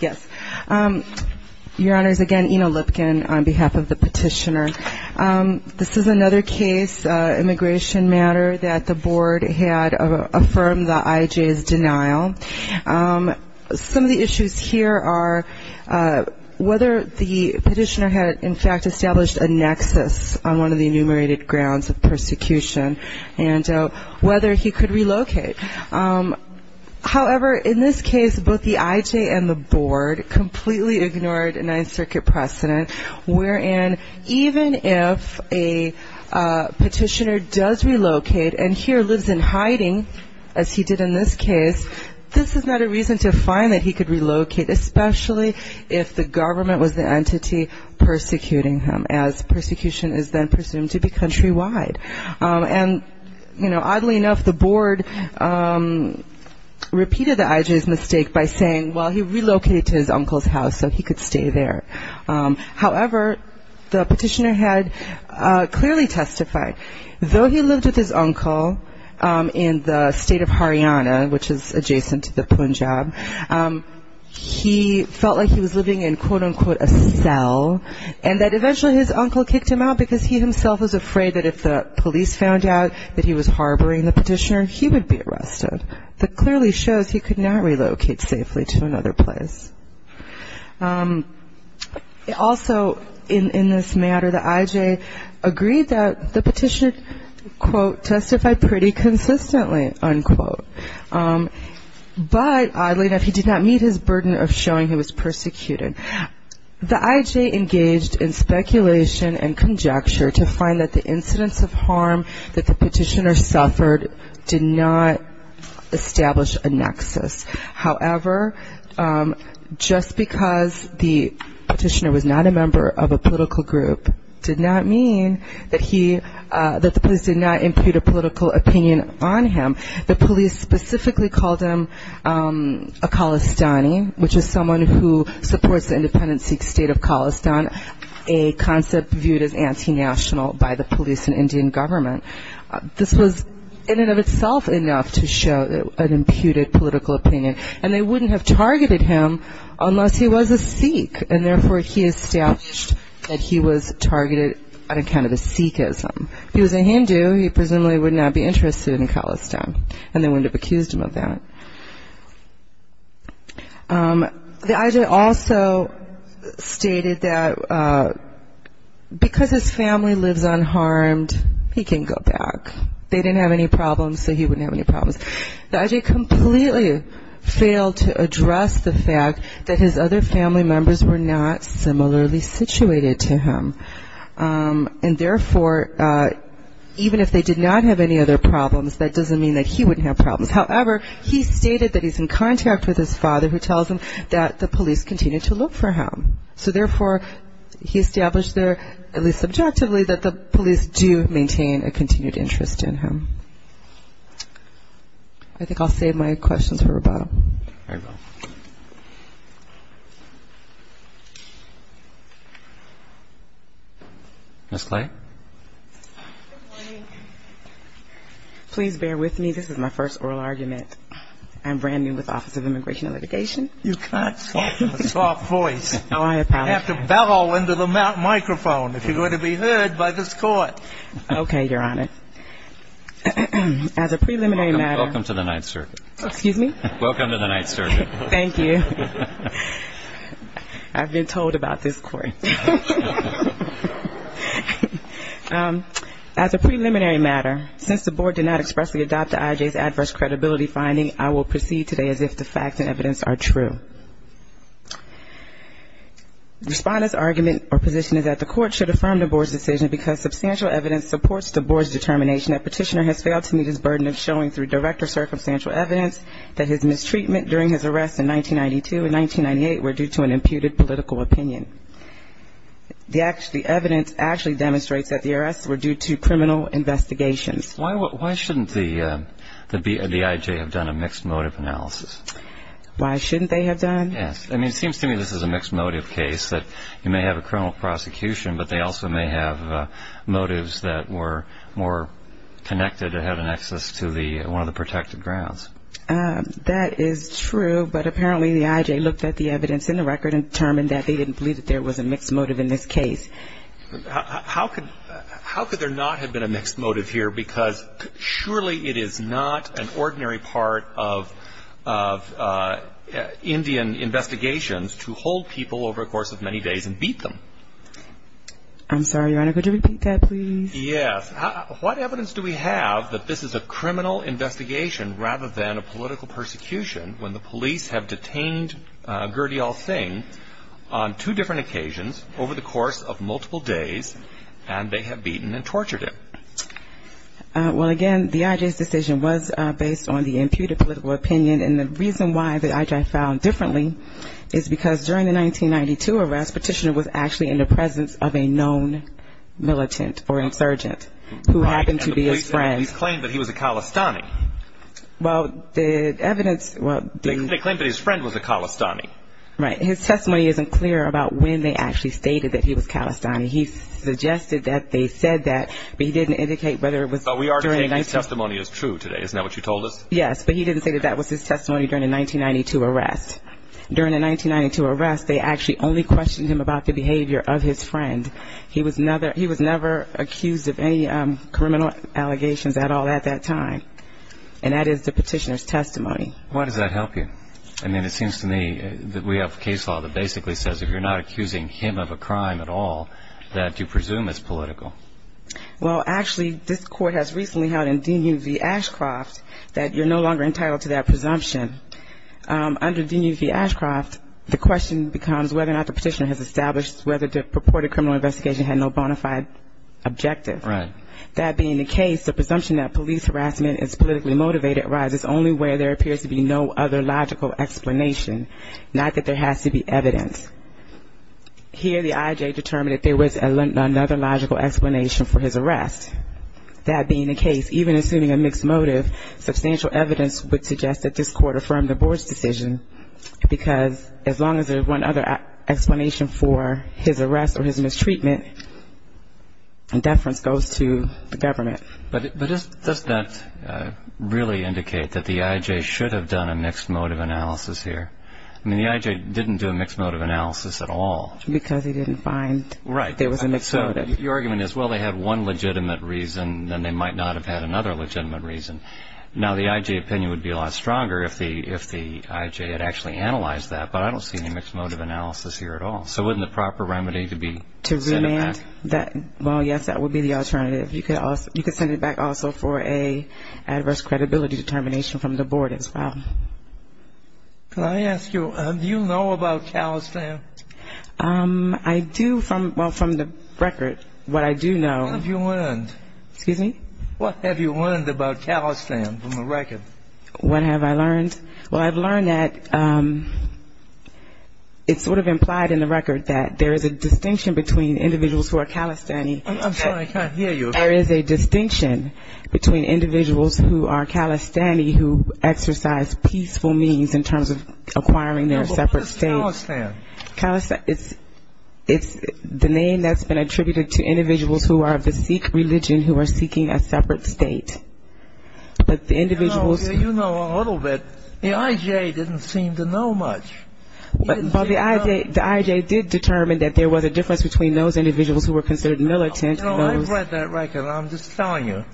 Yes, Your Honors, again, Ina Lipkin on behalf of the petitioner. This is another case, immigration matter that the board had affirmed the IJ's denial. Some of the issues here are whether the petitioner had in fact established a nexus on one of the enumerated grounds of persecution and whether he could relocate. However, in this case, both the IJ and the board completely ignored a Ninth Circuit precedent, wherein even if a petitioner does relocate and here lives in hiding, as he did in this case, this is not a reason to find that he could relocate, especially if the government was the entity persecuting him, as persecution is then presumed to be countrywide. And, you know, oddly enough, the board repeated the IJ's mistake by saying, well, he relocated to his uncle's house, so he could stay there. However, the petitioner had clearly testified, though he lived with his uncle in the state of Haryana, which is adjacent to the Punjab, he felt like he was living in, quote, unquote, a cell, and that he was afraid that if the police found out that he was harboring the petitioner, he would be arrested. That clearly shows he could not relocate safely to another place. Also, in this matter, the IJ agreed that the petitioner, quote, testified pretty consistently, unquote. But oddly enough, he did not meet his burden of showing he was persecuted. The IJ engaged in speculation and conjecture to find that the incidents of harm that the petitioner suffered did not establish a nexus. However, just because the petitioner was not a member of a political group did not mean that the police did not impute a political opinion on him. The police specifically called him a Khalistani, which is someone who supports an independent Sikh state of Khalistan, a concept viewed as anti-national by the police and Indian government. This was, in and of itself, enough to show an imputed political opinion, and they wouldn't have targeted him unless he was a Sikh, and therefore he established that he was targeted on account of his Sikhism. If he was a Hindu, he presumably would not be interested in Khalistan, and they wouldn't have accused him of that. The IJ also stated that because his family lives unharmed, he can go back. They didn't have any problems, so he wouldn't have any problems. The IJ completely failed to address the fact that his other family members were not similarly situated to him, and therefore even if they did not have any other problems, that doesn't mean that he wouldn't have problems. However, he stated that he's in contact with his father, who tells him that the police continue to look for him. So therefore, he established there, at least subjectively, that the police do maintain a continued interest in him. I think I'll save my questions for Ms. Clay? Ms. Clay? Please bear with me. This is my first oral argument. I'm brand new with the Office of Immigration and Litigation. You've got a soft voice. You have to bellow into the microphone if you're going to be heard by this Court. Okay, Your Honor. As a preliminary matter — Welcome to the Ninth Circuit. Excuse me? Welcome to the Ninth Circuit. Thank you. I've been told about this Court. As a preliminary matter, since the Board did not expressly adopt the IJ's adverse credibility finding, I will proceed today as if the facts and evidence are true. Respondent's argument or position is that the Court should affirm the Board's decision because substantial evidence supports the Board's determination that Petitioner has failed to meet his burden of showing through direct or circumstantial evidence that his arrest in 1992 and 1998 were due to an imputed political opinion. The evidence actually demonstrates that the arrests were due to criminal investigations. Why shouldn't the IJ have done a mixed-motive analysis? Why shouldn't they have done? Yes. I mean, it seems to me this is a mixed-motive case, that you may have a criminal prosecution, but they also may have motives that were more connected or had an excess to one of the protected grounds. That is true, but apparently the IJ looked at the evidence in the record and determined that they didn't believe that there was a mixed motive in this case. How could there not have been a mixed motive here? Because surely it is not an ordinary part of Indian investigations to hold people over a course of many days and beat them. I'm sorry, Your Honor. Could you repeat that, please? Yes. What evidence do we have that this is a criminal investigation rather than a political persecution when the police have detained Gurdial Singh on two different occasions over the course of multiple days and they have beaten and tortured him? Well, again, the IJ's decision was based on the imputed political opinion, and the reason why the IJ filed differently is because during the 1992 arrest, Petitioner was actually in the presence of a known militant or insurgent who happened to be his friend. Right, and the police claimed that he was a Khalistani. Well, the evidence... They claimed that his friend was a Khalistani. Right. His testimony isn't clear about when they actually stated that he was Khalistani. He suggested that they said that, but he didn't indicate whether it was during... But we are saying his testimony is true today. Isn't that what you told us? Yes, but he didn't say that that was his testimony during the 1992 arrest. During the 1992 arrest, they actually only questioned him about the behavior of his friend. He was never accused of any criminal allegations at all at that time, and that is the Petitioner's testimony. Why does that help you? I mean, it seems to me that we have a case law that basically says if you're not accusing him of a crime at all, that you presume it's political. Well, actually, this Court has recently held in D.U. v. Ashcroft that you're no longer whether or not the Petitioner has established whether the purported criminal investigation had no bona fide objective. Right. That being the case, the presumption that police harassment is politically motivated arises only where there appears to be no other logical explanation, not that there has to be evidence. Here, the I.J. determined that there was another logical explanation for his arrest. That being the case, even assuming a mixed motive, substantial evidence would suggest that this Court affirmed the Board's decision, because as long as there's one other explanation for his arrest or his mistreatment, deference goes to the government. But does that really indicate that the I.J. should have done a mixed motive analysis here? I mean, the I.J. didn't do a mixed motive analysis at all. Because he didn't find there was a mixed motive. Right. So your argument is, well, they had one legitimate reason, then they might not have had another legitimate reason. Now, the I.J. opinion would be a lot stronger if the I.J. had actually analyzed that, but I don't see any mixed motive analysis here at all. So wouldn't the proper remedy be to send it back? Well, yes, that would be the alternative. You could send it back also for an adverse credibility determination from the Board as well. Can I ask you, do you know about Talestan? I do from the record. What I do know What have you learned? Excuse me? What have you learned about Talestan from the record? What have I learned? Well, I've learned that it's sort of implied in the record that there is a distinction between individuals who are I'm sorry, I can't hear you. There is a distinction between individuals who are Talestani who exercise peaceful means in terms of acquiring their separate state. What is Talestan? Talestan, it's the name that's been attributed to individuals who are of the Sikh religion who are seeking a separate state. But the individuals You know a little bit. The I.J. didn't seem to know much. But the I.J. did determine that there was a difference between those individuals who were considered militant and those You know, I've read that record, and I'm just telling you.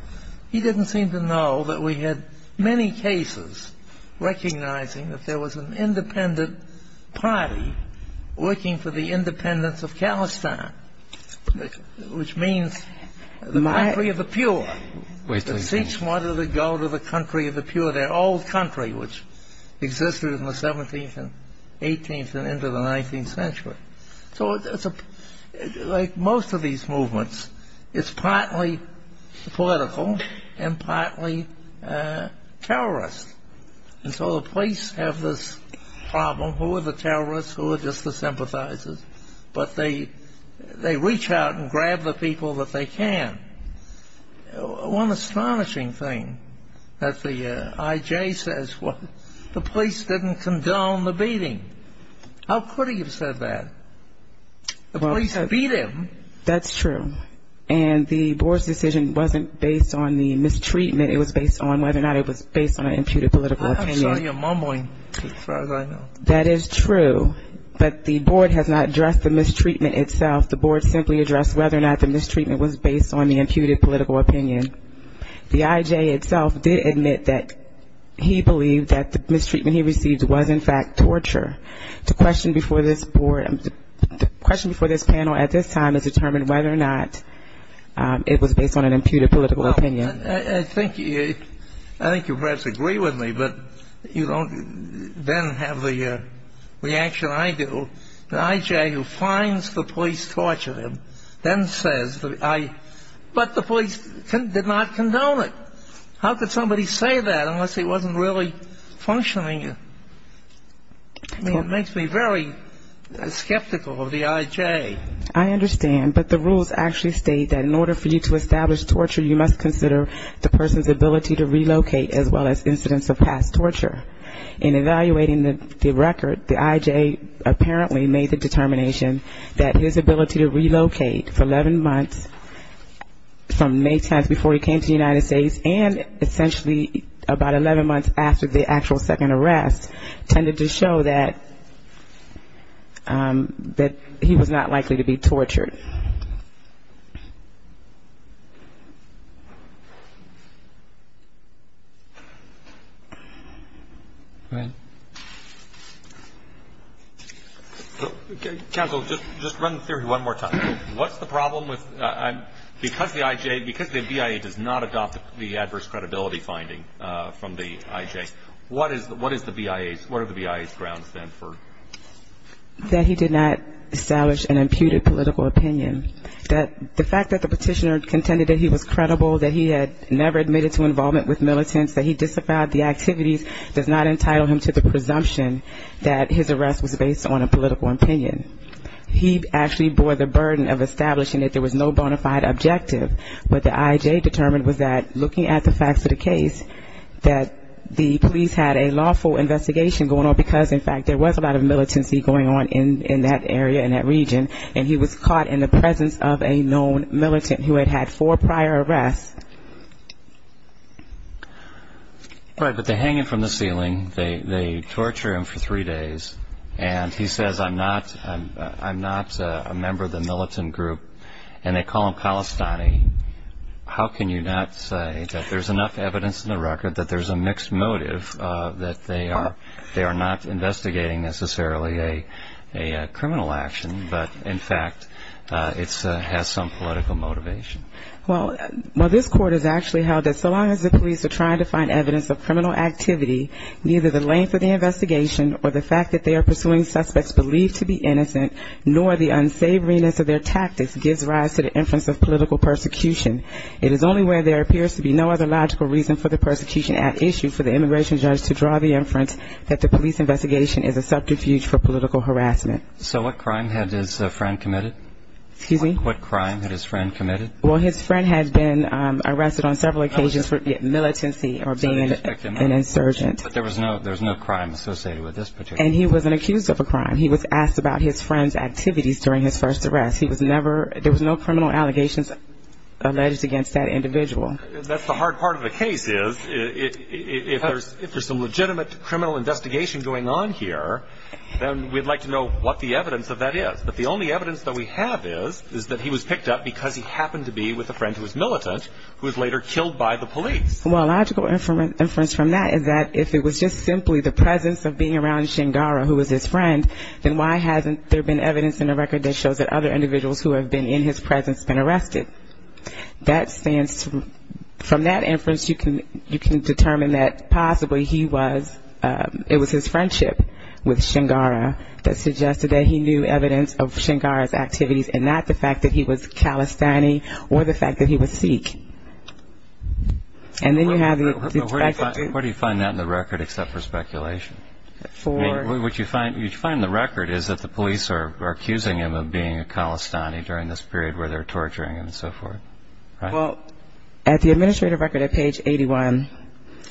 He didn't seem to know that we had many cases recognizing that there was an independent party looking for the independence of Talestan, which means the country of the pure. The Sikhs wanted to go to the country of the pure, their old country, which existed in the 17th and 18th and into the 19th century. So like most of these movements, it's partly political and partly terrorist. And so the police have this problem. Who are the terrorists? Who are just the sympathizers? But they reach out and grab the people that they can. One astonishing thing that the I.J. says, the police didn't condone the beating. How could he have said that? The police beat him. That's true. And the board's decision wasn't based on the mistreatment. It was based on whether or not it was based on an imputed political opinion. I'm sure you're mumbling as far as I know. That is true. But the board has not addressed the mistreatment itself. The board simply addressed whether or not the mistreatment was based on the imputed political opinion. The I.J. itself did admit that he believed that the mistreatment he received was, in fact, torture. The question before this panel at this time is determined whether or not it was based on an imputed political opinion. Well, I think you perhaps agree with me, but you don't then have the reaction I do. The I.J. who finds the police tortured him then says, but the police did not condone it. How could somebody say that unless he wasn't really functioning? I mean, it makes me very skeptical of the I.J. I understand. But the rules actually state that in order for you to establish torture, you must consider the person's ability to relocate as well as incidents of past torture. In evaluating the record, the I.J. apparently made the determination that his ability to relocate for 11 months from May 10th before he came to the United States and essentially about 11 months after the actual second arrest tended to show that he was not likely to be tortured. Go ahead. Counsel, just run the theory one more time. What's the problem with because the I.J., because the BIA does not adopt the adverse credibility finding from the I.J., what is the BIA's, what are the BIA's grounds then for? That he did not establish an imputed political opinion. The fact that the petitioner contended that he was credible, that he had never admitted to involvement with militants, that he disavowed the activities does not entitle him to the presumption that his arrest was based on a political opinion. He actually bore the burden of establishing that there was no bona fide objective. What the I.J. determined was that looking at the facts of the case, that the police had a lawful investigation going on because, in fact, there was a lot of militancy going on in that area, in that region, and he was caught in the presence of a known militant who had had four prior arrests. Right, but they hang him from the ceiling, they torture him for three days, and he says, I'm not a member of the militant group, and they call him Palestinian. How can you not say that there's enough evidence in the record that there's a mixed motive, that they are not investigating necessarily a criminal action, but, in fact, it has some political motivation? Well, this court has actually held that so long as the police are trying to find evidence of criminal activity, neither the length of the investigation or the fact that they are pursuing suspects believed to be innocent, nor the unsavoriness of their tactics gives rise to the inference of political persecution. It is only where there appears to be no other logical reason for the persecution at issue for the immigration judge to draw the inference that the police investigation is a subterfuge for political harassment. So what crime had his friend committed? Excuse me? What crime had his friend committed? Well, his friend had been arrested on several occasions for militancy or being an insurgent. But there was no crime associated with this particular case? And he was an accused of a crime. He was asked about his friend's activities during his first arrest. He was never – there was no criminal allegations alleged against that individual. That's the hard part of the case is if there's some legitimate criminal investigation going on here, then we'd like to know what the evidence of that is. But the only evidence that we have is that he was picked up because he happened to be with a friend who was militant who was later killed by the police. Well, a logical inference from that is that if it was just simply the presence of being around Shingara, who was his friend, then why hasn't there been evidence in the record that shows that other individuals who have been in his presence have been arrested? That stands to – from that inference, you can determine that possibly he was – it was his friendship with Shingara that suggested that he knew evidence of Shingara's activities and not the fact that he was Calisthani or the fact that he was Sikh. And then you have the – Where do you find that in the record except for speculation? I mean, what you find in the record is that the police are accusing him of being a Calistani during this period where they're torturing him and so forth, right? Well, at the administrative record at page 81,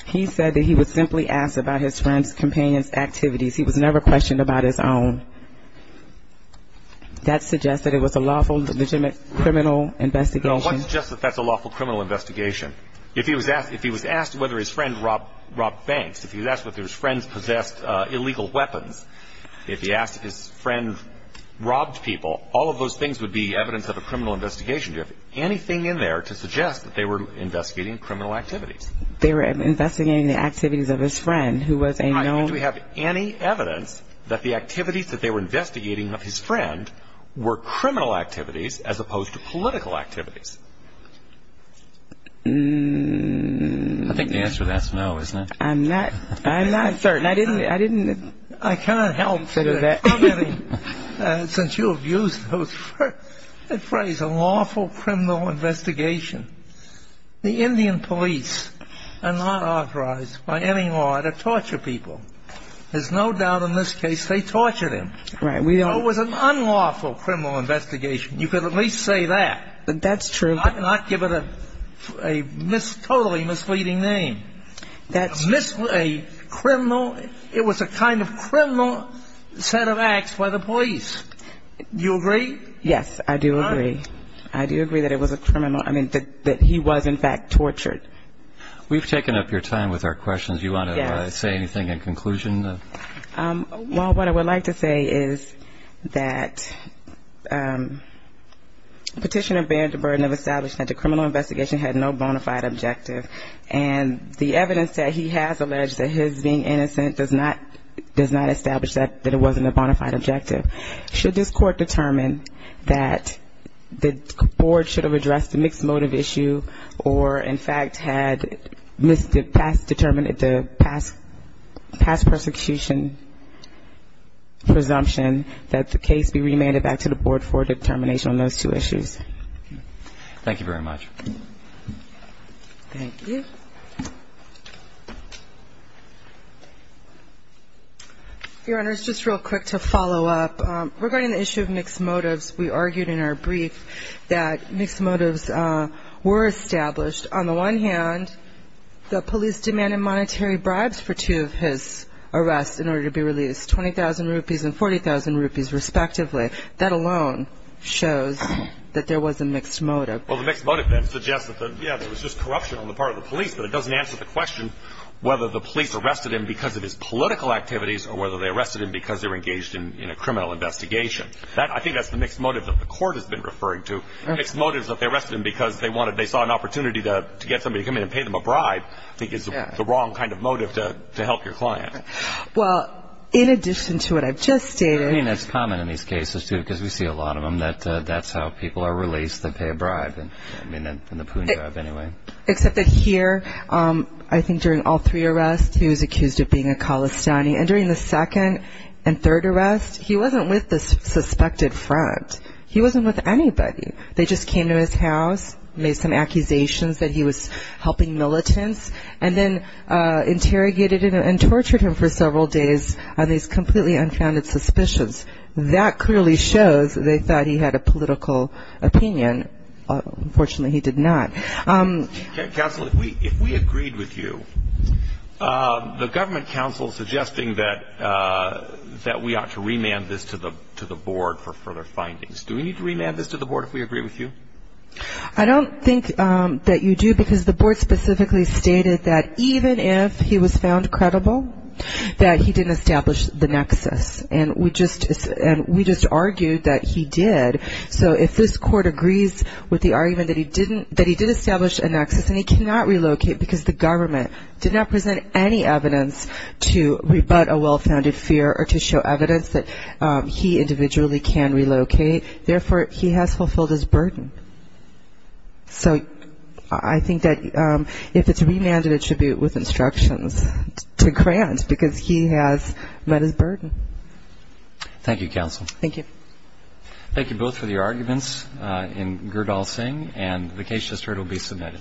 he said that he was simply asked about his friend's companion's activities. He was never questioned about his own. That suggests that it was a lawful, legitimate criminal investigation. No, what suggests that that's a lawful criminal investigation? If he was asked whether his friend robbed banks, if he was asked whether his friends possessed illegal weapons, if he asked if his friend robbed people, all of those things would be evidence of a criminal investigation. Do you have anything in there to suggest that they were investigating criminal activities? They were investigating the activities of his friend who was a known – Do we have any evidence that the activities that they were investigating of his friend were criminal activities as opposed to political activities? I think the answer to that is no, isn't it? I'm not – I'm not certain. I didn't – I didn't – I can't help you there, since you abused the phrase, a lawful criminal investigation. The Indian police are not authorized by any law to torture people. There's no doubt in this case they tortured him. Right. We don't – So it was an unlawful criminal investigation. You could at least say that. That's true. Not give it a totally misleading name. That's – A criminal – it was a kind of criminal set of acts by the police. Do you agree? Yes, I do agree. I do agree that it was a criminal – I mean, that he was, in fact, tortured. We've taken up your time with our questions. Do you want to say anything in conclusion? Well, what I would like to say is that Petitioner bared the burden of establishing that the criminal investigation had no bona fide objective, and the evidence that he has alleged that his being innocent does not establish that it wasn't a bona fide objective. Should this court determine that the board should have addressed the mixed motive issue or, in fact, had determined the past persecution presumption, that the case be remanded back to the board for determination on those two issues? Thank you very much. Thank you. Your Honor, just real quick to follow up. Regarding the issue of mixed motives, we argued in our brief that mixed motives were established. On the one hand, the police demanded monetary bribes for two of his arrests in order to be released, 20,000 rupees and 40,000 rupees respectively. That alone shows that there was a mixed motive. Well, the mixed motive then suggests that, yeah, there was just corruption on the part of the police, but it doesn't answer the question whether the police arrested him because of his political activities or whether they arrested him because they were engaged in a criminal investigation. I think that's the mixed motive that the court has been referring to. Mixed motives that they arrested him because they saw an opportunity to get somebody to come in and pay them a bribe, I think is the wrong kind of motive to help your client. Well, in addition to what I've just stated— I mean, it's common in these cases, too, because we see a lot of them, that that's how people are released, they pay a bribe in the poon job anyway. Except that here, I think during all three arrests, he was accused of being a Khalistani. And during the second and third arrests, he wasn't with the suspected front. He wasn't with anybody. They just came to his house, made some accusations that he was helping militants, and then interrogated him and tortured him for several days on these completely unfounded suspicions. That clearly shows they thought he had a political opinion. Unfortunately, he did not. Counsel, if we agreed with you, the government counsel is suggesting that we ought to remand this to the board for further findings. Do we need to remand this to the board if we agree with you? I don't think that you do, because the board specifically stated that even if he was found credible, that he didn't establish the nexus. And we just argued that he did. So if this court agrees with the argument that he did establish a nexus, and he cannot relocate because the government did not present any evidence to rebut a well-founded fear or to show evidence that he individually can relocate, therefore, he has fulfilled his burden. So I think that if it's remanded, it should be with instructions to grant, because he has met his burden. Thank you, counsel. Thank you. Thank you both for your arguments in Girdalsingh. And the case just heard will be submitted.